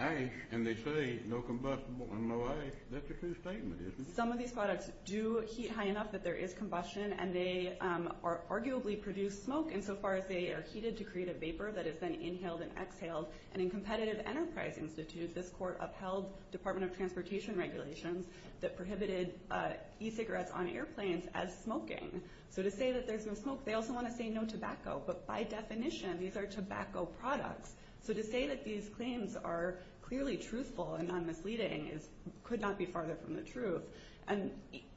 ash, and they say no combustible and no ash, that's a true statement, isn't it? Some of these products do heat high enough that there is combustion, and they arguably produce smoke insofar as they are heated to create a vapor that is then inhaled and exhaled. And in Competitive Enterprise Institute, this court upheld Department of Transportation regulations that prohibited e-cigarettes on airplanes as smoking. So to say that there's no smoke, they also want to say no tobacco. But by definition, these are tobacco products. So to say that these claims are clearly truthful and non-misleading could not be farther from the truth. And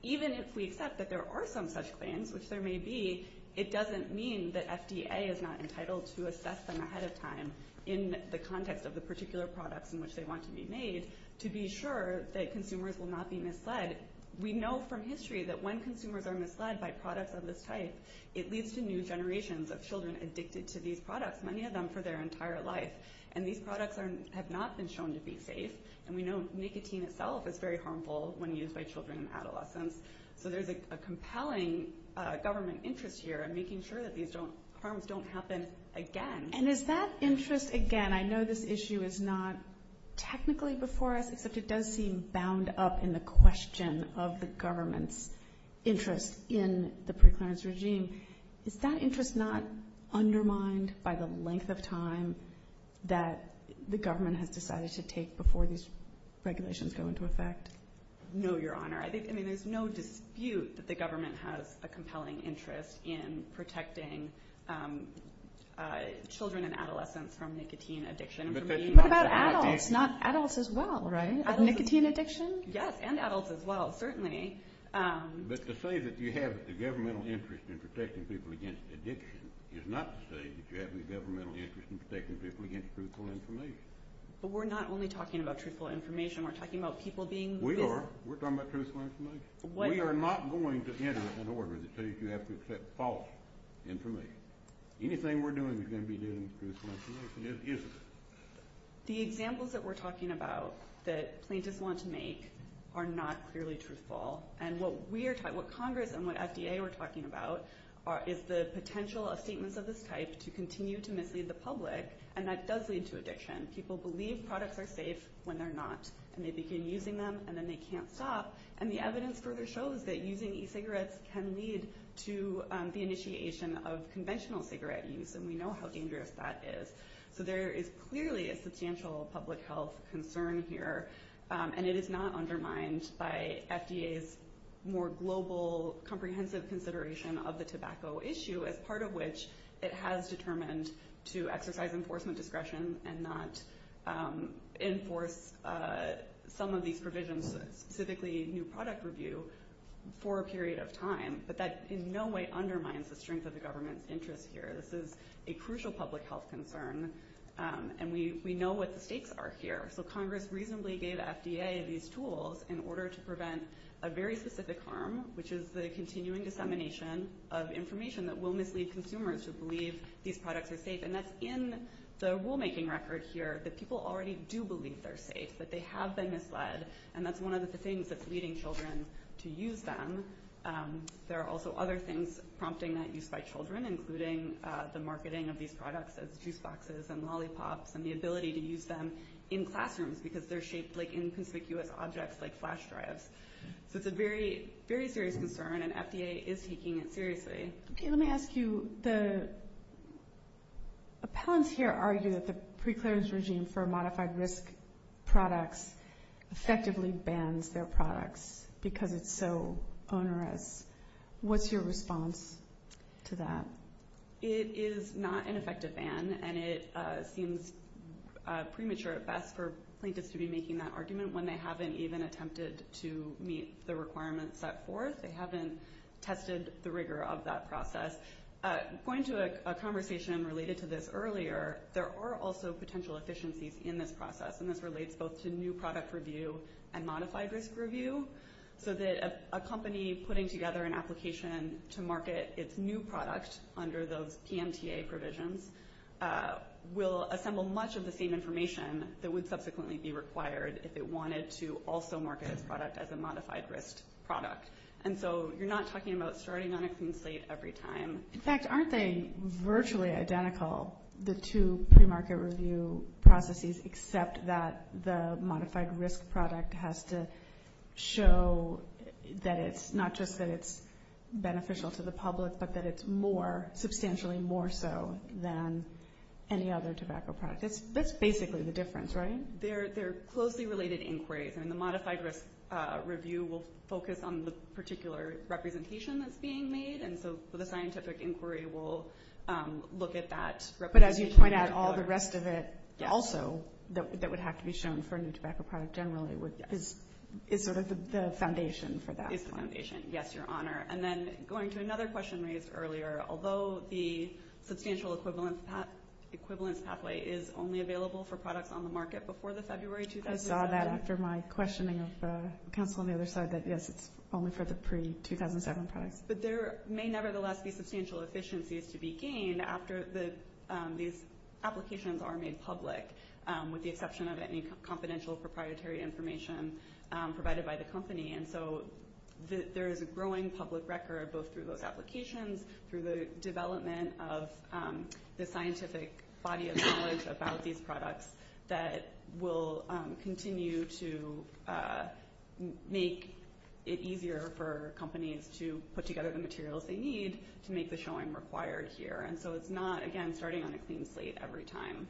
even if we accept that there are some such claims, which there may be, it doesn't mean that FDA is not entitled to assess them ahead of time in the context of the particular products in which they want to be made to be sure that consumers will not be misled. We know from history that when consumers are misled by products of this type, it leads to new generations of children addicted to these products, many of them for their entire life. And these products have not been shown to be safe, and we know nicotine itself is very harmful when used by children and adolescents. So there's a compelling government interest here in making sure that these harms don't happen again. And is that interest again? I know this issue is not technically before us, except it does seem bound up in the question of the government's interest in the preclearance regime. Is that interest not undermined by the length of time that the government has decided to take before these regulations go into effect? No, Your Honor. I mean, there's no dispute that the government has a compelling interest in protecting children and adolescents from nicotine addiction. What about adults? Adults as well, right? Nicotine addiction? Yes, and adults as well, certainly. But to say that you have the governmental interest in protecting people against addiction is not to say that you have any governmental interest in protecting people against truthful information. But we're not only talking about truthful information. We're talking about people being... We are. We're talking about truthful information. We are not going to enter an order that says you have to accept false information. Anything we're doing is going to be doing truthful information, isn't it? The examples that we're talking about that plaintiffs want to make are not clearly truthful. And what Congress and what FDA are talking about is the potential of statements of this type to continue to mislead the public, and that does lead to addiction. People believe products are safe when they're not, and they begin using them, and then they can't stop. And the evidence further shows that using e-cigarettes can lead to the initiation of conventional cigarette use, and we know how dangerous that is. So there is clearly a substantial public health concern here, and it is not undermined by FDA's more global, comprehensive consideration of the tobacco issue, as part of which it has determined to exercise enforcement discretion and not enforce some of these provisions, specifically new product review, for a period of time. But that in no way undermines the strength of the government's interest here. This is a crucial public health concern, and we know what the stakes are here. So Congress reasonably gave FDA these tools in order to prevent a very specific harm, which is the continuing dissemination of information that will mislead consumers who believe these products are safe, and that's in the rulemaking record here that people already do believe they're safe, that they have been misled, and that's one of the things that's leading children to use them. There are also other things prompting that use by children, including the marketing of these products as juice boxes and lollipops and the ability to use them in classrooms because they're shaped like inconspicuous objects like flash drives. So it's a very, very serious concern, and FDA is taking it seriously. Let me ask you, the appellants here argue that the preclearance regime for modified risk products effectively bans their products because it's so onerous. What's your response to that? It is not an effective ban, and it seems premature at best for plaintiffs to be making that argument when they haven't even attempted to meet the requirements set forth. They haven't tested the rigor of that process. Going to a conversation related to this earlier, there are also potential efficiencies in this process, and this relates both to new product review and modified risk review, so that a company putting together an application to market its new product under those PMTA provisions will assemble much of the same information that would subsequently be required if it wanted to also market its product as a modified risk product. And so you're not talking about starting on a clean slate every time. In fact, aren't they virtually identical, the two premarket review processes, except that the modified risk product has to show that it's not just that it's beneficial to the public, but that it's more, substantially more so than any other tobacco product. That's basically the difference, right? They're closely related inquiries, and the modified risk review will focus on the particular representation that's being made, and so the scientific inquiry will look at that representation. But as you point out, all the rest of it also that would have to be shown for a new tobacco product generally is sort of the foundation for that. It's the foundation, yes, Your Honor. And then going to another question raised earlier, although the substantial equivalence pathway is only available for products on the market before the February 2007. I saw that after my questioning of counsel on the other side that, yes, it's only for the pre-2007 products. But there may nevertheless be substantial efficiencies to be gained after these applications are made public, with the exception of any confidential proprietary information provided by the company. And so there is a growing public record both through those applications, through the development of the scientific body of knowledge about these products that will continue to make it easier for companies to put together the materials they need to make the showing required here. And so it's not, again, starting on a clean slate every time.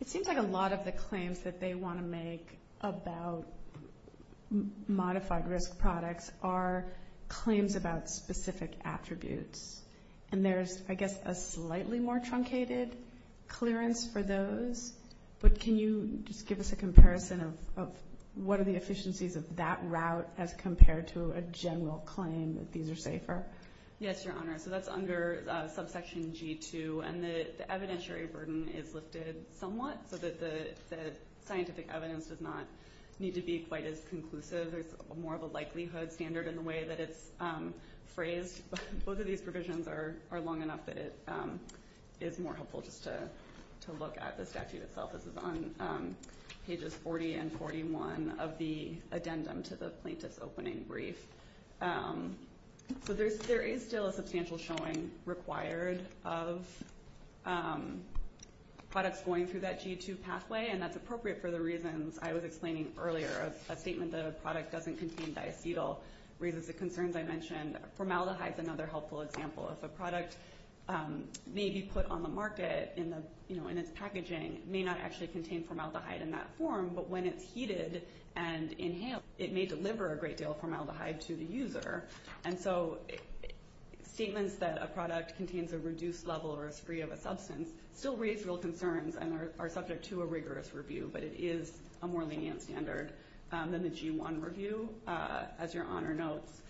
It seems like a lot of the claims that they want to make about modified risk products are claims about specific attributes. And there's, I guess, a slightly more truncated clearance for those. But can you just give us a comparison of what are the efficiencies of that route as compared to a general claim that these are safer? Yes, Your Honor. So that's under subsection G2, and the evidentiary burden is lifted somewhat so that the scientific evidence does not need to be quite as conclusive. There's more of a likelihood standard in the way that it's phrased. Both of these provisions are long enough that it is more helpful just to look at the statute itself. This is on pages 40 and 41 of the addendum to the plaintiff's opening brief. So there is still a substantial showing required of products going through that G2 pathway, and that's appropriate for the reasons I was explaining earlier. A statement that a product doesn't contain diacetyl raises the concerns I mentioned. Formaldehyde is another helpful example. If a product may be put on the market in its packaging, it may not actually contain formaldehyde in that form, but when it's heated and inhaled, it may deliver a great deal of formaldehyde to the user. And so statements that a product contains a reduced level or is free of a substance still raise real concerns and are subject to a rigorous review, but it is a more lenient standard than the G1 review, as your Honor notes.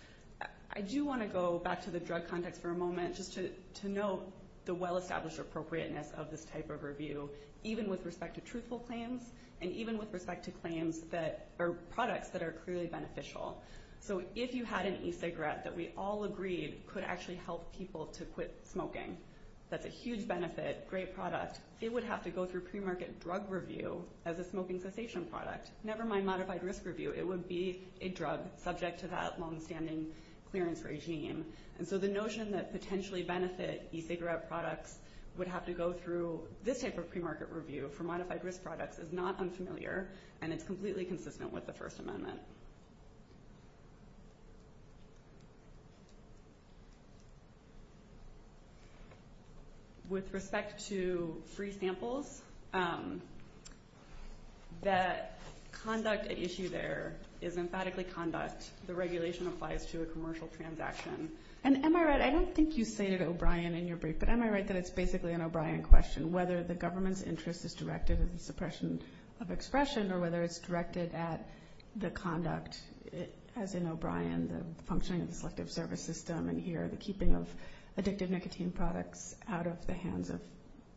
I do want to go back to the drug context for a moment just to note the well-established appropriateness of this type of review, even with respect to truthful claims and even with respect to products that are clearly beneficial. So if you had an e-cigarette that we all agreed could actually help people to quit smoking, that's a huge benefit, great product, it would have to go through premarket drug review as a smoking cessation product. Never mind modified risk review. It would be a drug subject to that long-standing clearance regime. And so the notion that potentially benefit e-cigarette products would have to go through this type of premarket review for modified risk products is not unfamiliar, and it's completely consistent with the First Amendment. With respect to free samples, that conduct at issue there is emphatically conduct. The regulation applies to a commercial transaction. And am I right, I don't think you stated O'Brien in your brief, but am I right that it's basically an O'Brien question, whether the government's interest is directed at the suppression of expression or whether it's directed at the conduct, as in O'Brien, the functioning of the selective service system and here the keeping of addictive nicotine products out of the hands of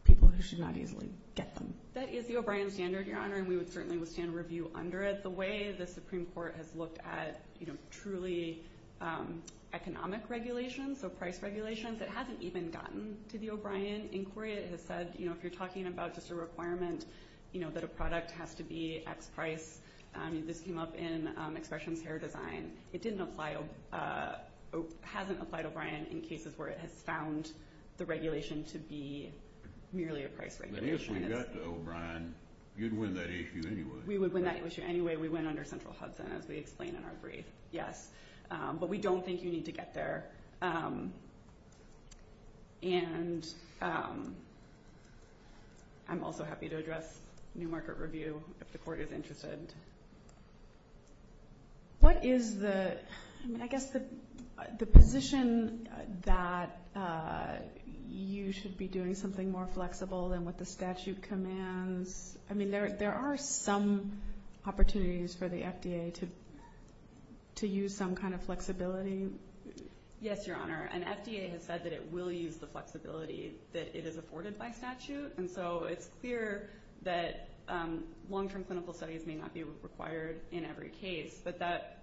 people who should not easily get them? That is the O'Brien standard, Your Honor, and we would certainly withstand a review under it. The way the Supreme Court has looked at truly economic regulations, so price regulations, it hasn't even gotten to the O'Brien inquiry. It has said, you know, if you're talking about just a requirement, you know, that a product has to be X price, this came up in Expressions Hair Design. It didn't apply or hasn't applied to O'Brien in cases where it has found the regulation to be merely a price regulation. But if we got to O'Brien, you'd win that issue anyway. We would win that issue anyway. We win under Central Hudson, as we explain in our brief, yes. But we don't think you need to get there. And I'm also happy to address New Market Review if the Court is interested. What is the, I guess, the position that you should be doing something more flexible than what the statute commands? I mean, there are some opportunities for the FDA to use some kind of flexibility. Yes, Your Honor. And FDA has said that it will use the flexibility that it has afforded by statute. And so it's clear that long-term clinical studies may not be required in every case. But that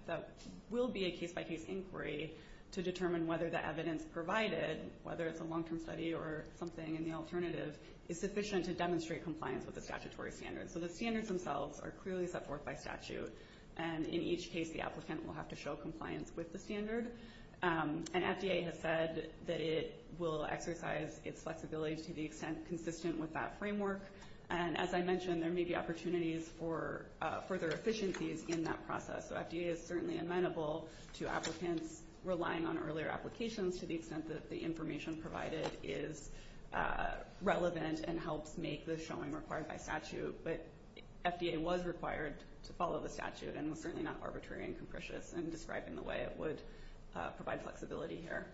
will be a case-by-case inquiry to determine whether the evidence provided, whether it's a long-term study or something in the alternative, is sufficient to demonstrate compliance with the statutory standards. So the standards themselves are clearly set forth by statute. And in each case, the applicant will have to show compliance with the standard. And FDA has said that it will exercise its flexibility to the extent consistent with that framework. And as I mentioned, there may be opportunities for further efficiencies in that process. So FDA is certainly amenable to applicants relying on earlier applications to the extent that the information provided is relevant and helps make the showing required by statute. But FDA was required to follow the statute and was certainly not arbitrary and capricious in describing the way it would provide flexibility here.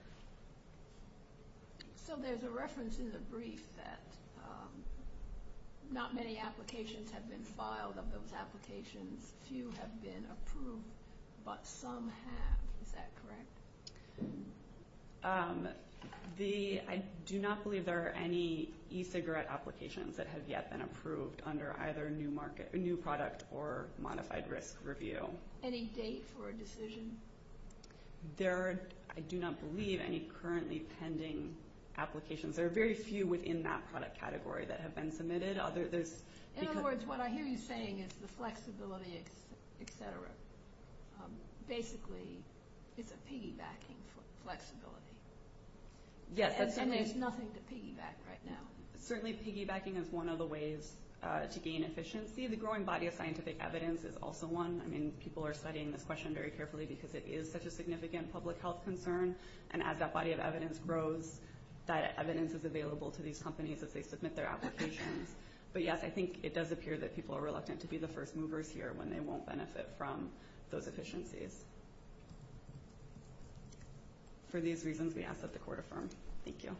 So there's a reference in the brief that not many applications have been filed. Of those applications, few have been approved, but some have. Is that correct? I do not believe there are any e-cigarette applications that have yet been approved under either new product or modified risk review. Any date for a decision? I do not believe any currently pending applications. There are very few within that product category that have been submitted. In other words, what I hear you saying is the flexibility, et cetera. Basically, it's a piggybacking flexibility. And there's nothing to piggyback right now. Certainly piggybacking is one of the ways to gain efficiency. The growing body of scientific evidence is also one. I mean, people are studying this question very carefully because it is such a significant public health concern. And as that body of evidence grows, that evidence is available to these companies as they submit their applications. But, yes, I think it does appear that people are reluctant to be the first movers here when they won't benefit from those efficiencies. For these reasons, we ask that the court affirm. Thank you.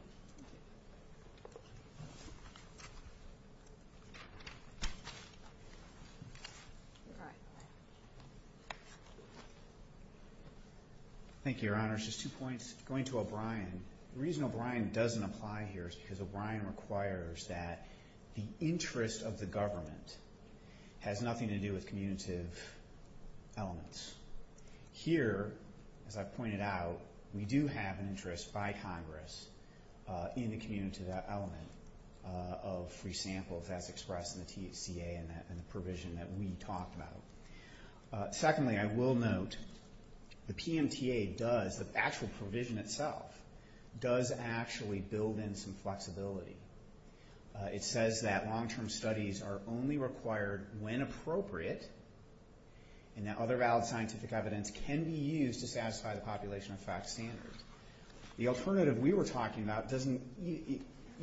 Thank you, Your Honors. Just two points. Going to O'Brien, the reason O'Brien doesn't apply here is because O'Brien requires that the interest of the government has nothing to do with commutative elements. Here, as I pointed out, we do have an interest by Congress in the commutative element of free samples as expressed in the THCA and the provision that we talked about. Secondly, I will note the PMTA does, the actual provision itself, does actually build in some flexibility. It says that long-term studies are only required when appropriate and that other valid scientific evidence can be used to satisfy the population effect standard. The alternative we were talking about doesn't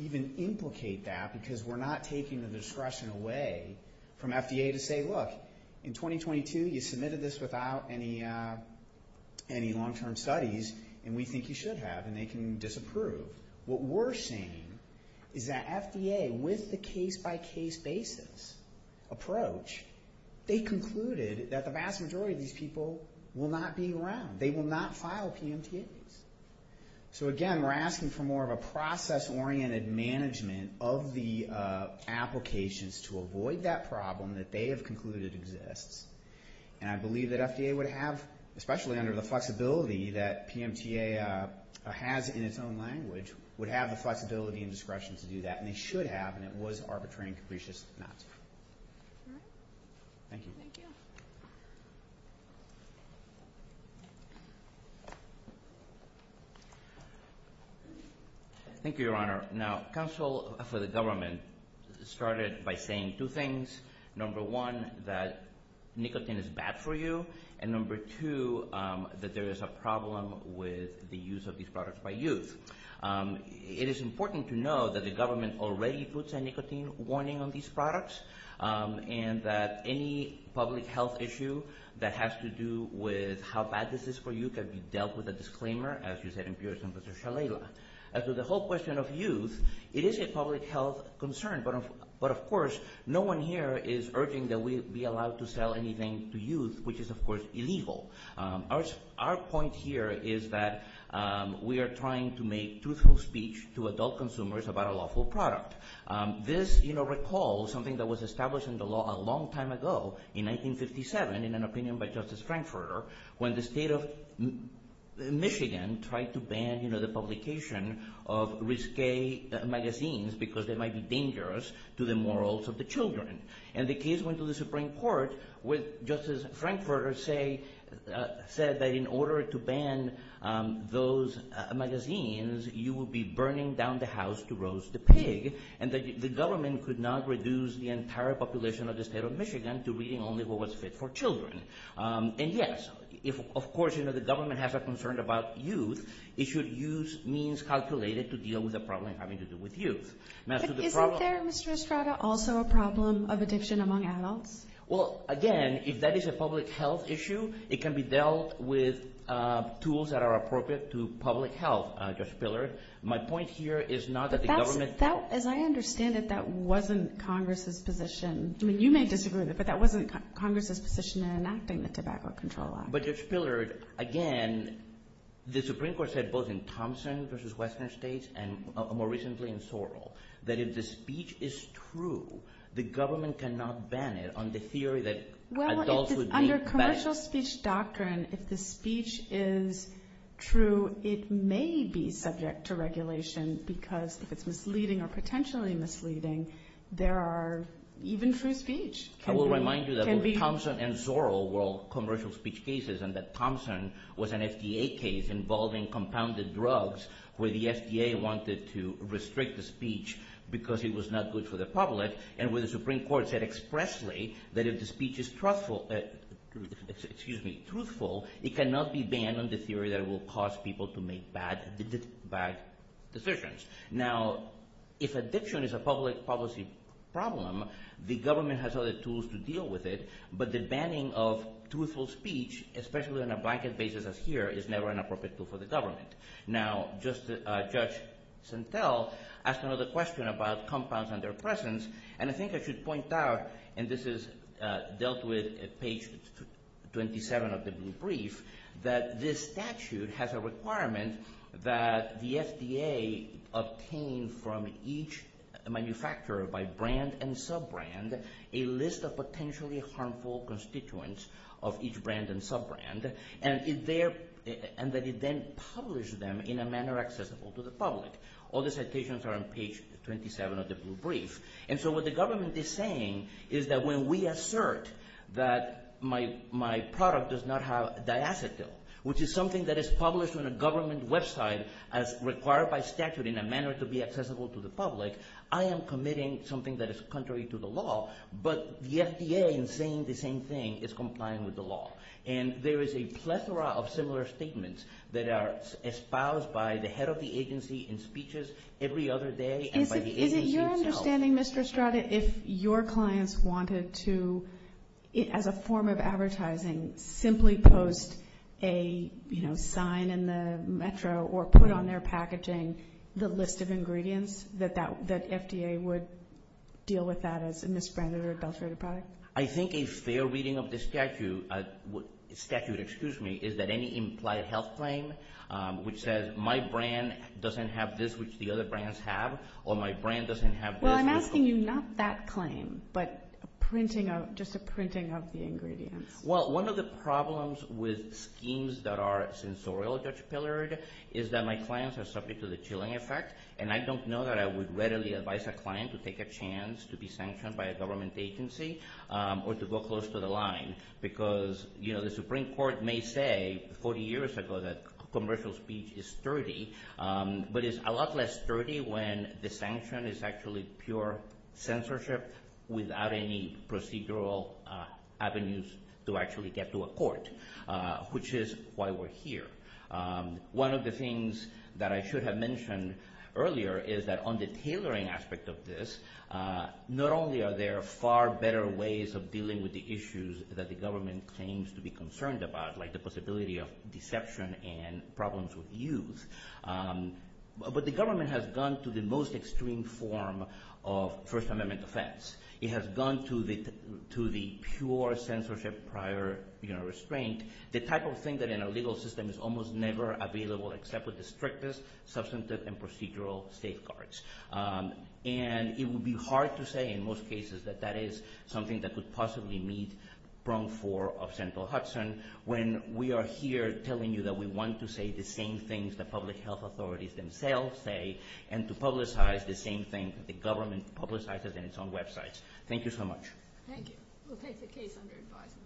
even implicate that because we're not taking the discretion away from FDA to say, look, in 2022 you submitted this without any long-term studies and we think you should have and they can disapprove. What we're saying is that FDA, with the case-by-case basis approach, they concluded that the vast majority of these people will not be around. They will not file PMTAs. Again, we're asking for more of a process-oriented management of the applications to avoid that problem that they have concluded exists. I believe that FDA would have, especially under the flexibility that PMTA has in its own language, would have the flexibility and discretion to do that, and they should have, and it was arbitrary and capricious not to. Thank you. Thank you, Your Honor. Now, counsel for the government started by saying two things. Number one, that nicotine is bad for you, and number two, that there is a problem with the use of these products by youth. It is important to know that the government already puts a nicotine warning on these products and that any public health issue that has to do with how bad this is for you can be dealt with a disclaimer, as you said in Pearson versus Shalala. As to the whole question of youth, it is a public health concern, but, of course, no one here is urging that we be allowed to sell anything to youth, which is, of course, illegal. Our point here is that we are trying to make truthful speech to adult consumers about a lawful product. This recalls something that was established in the law a long time ago, in 1957, in an opinion by Justice Frankfurter, when the state of Michigan tried to ban the publication of risque magazines because they might be dangerous to the morals of the children. And the case went to the Supreme Court, where Justice Frankfurter said that in order to ban those magazines, you would be burning down the house to roast the pig, and that the government could not reduce the entire population of the state of Michigan to reading only what was fit for children. And, yes, of course, the government has a concern about youth. It should use means calculated to deal with a problem having to do with youth. Isn't there, Mr. Estrada, also a problem of addiction among adults? Well, again, if that is a public health issue, it can be dealt with tools that are appropriate to public health, Judge Pillard. My point here is not that the government As I understand it, that wasn't Congress's position. I mean, you may disagree with it, but that wasn't Congress's position in enacting the Tobacco Control Act. But, Judge Pillard, again, the Supreme Court said both in Thompson v. Western States and more recently in Zorro that if the speech is true, the government cannot ban it on the theory that adults would be banned. Well, under commercial speech doctrine, if the speech is true, it may be subject to regulation because if it's misleading or potentially misleading, there are even free speech. I will remind you that both Thompson and Zorro were all commercial speech cases and that Thompson was an FDA case involving compounded drugs where the FDA wanted to restrict the speech because it was not good for the public and where the Supreme Court said expressly that if the speech is truthful, it cannot be banned on the theory that it will cause people to make bad decisions. Now, if addiction is a public policy problem, the government has other tools to deal with it, but the banning of truthful speech, especially on a blanket basis as here, is never an appropriate tool for the government. Now, Judge Santel asked another question about compounds and their presence, and I think I should point out, and this is dealt with at page 27 of the brief, that this statute has a requirement that the FDA obtain from each manufacturer by brand and sub-brand a list of potentially harmful constituents of each brand and sub-brand and that it then publish them in a manner accessible to the public. All the citations are on page 27 of the brief, and so what the government is saying is that when we assert that my product does not have diacetyl, which is something that is published on a government website as required by statute in a manner to be accessible to the public, I am committing something that is contrary to the law, but the FDA in saying the same thing is complying with the law. And there is a plethora of similar statements that are espoused by the head of the agency in speeches every other day and by the agency itself. Is it your understanding, Mr. Estrada, if your clients wanted to, as a form of advertising, simply post a sign in the metro or put on their packaging the list of ingredients that FDA would deal with that as a misbranded or adulterated product? I think a fair reading of the statute is that any implied health claim which says my brand doesn't have this, which the other brands have, or my brand doesn't have this. Well, I'm asking you not that claim, but just a printing of the ingredients. Well, one of the problems with schemes that are sensorial, Judge Pillard, is that my clients are subject to the chilling effect, and I don't know that I would readily advise a client to take a chance to be sanctioned by a government agency or to go close to the line, because the Supreme Court may say 40 years ago that commercial speech is sturdy, but it's a lot less sturdy when the sanction is actually pure censorship without any procedural avenues to actually get to a court, which is why we're here. One of the things that I should have mentioned earlier is that on the tailoring aspect of this, not only are there far better ways of dealing with the issues that the government claims to be concerned about, like the possibility of deception and problems with youth, but the government has gone to the most extreme form of First Amendment offense. It has gone to the pure censorship prior restraint, the type of thing that in a legal system is almost never available except with the strictest substantive and procedural safeguards. And it would be hard to say in most cases that that is something that would possibly meet prong four of central Hudson when we are here telling you that we want to say the same things that public health authorities themselves say and to publicize the same thing that the government publicizes in its own websites. Thank you so much. Thank you. We'll take the case under advisement.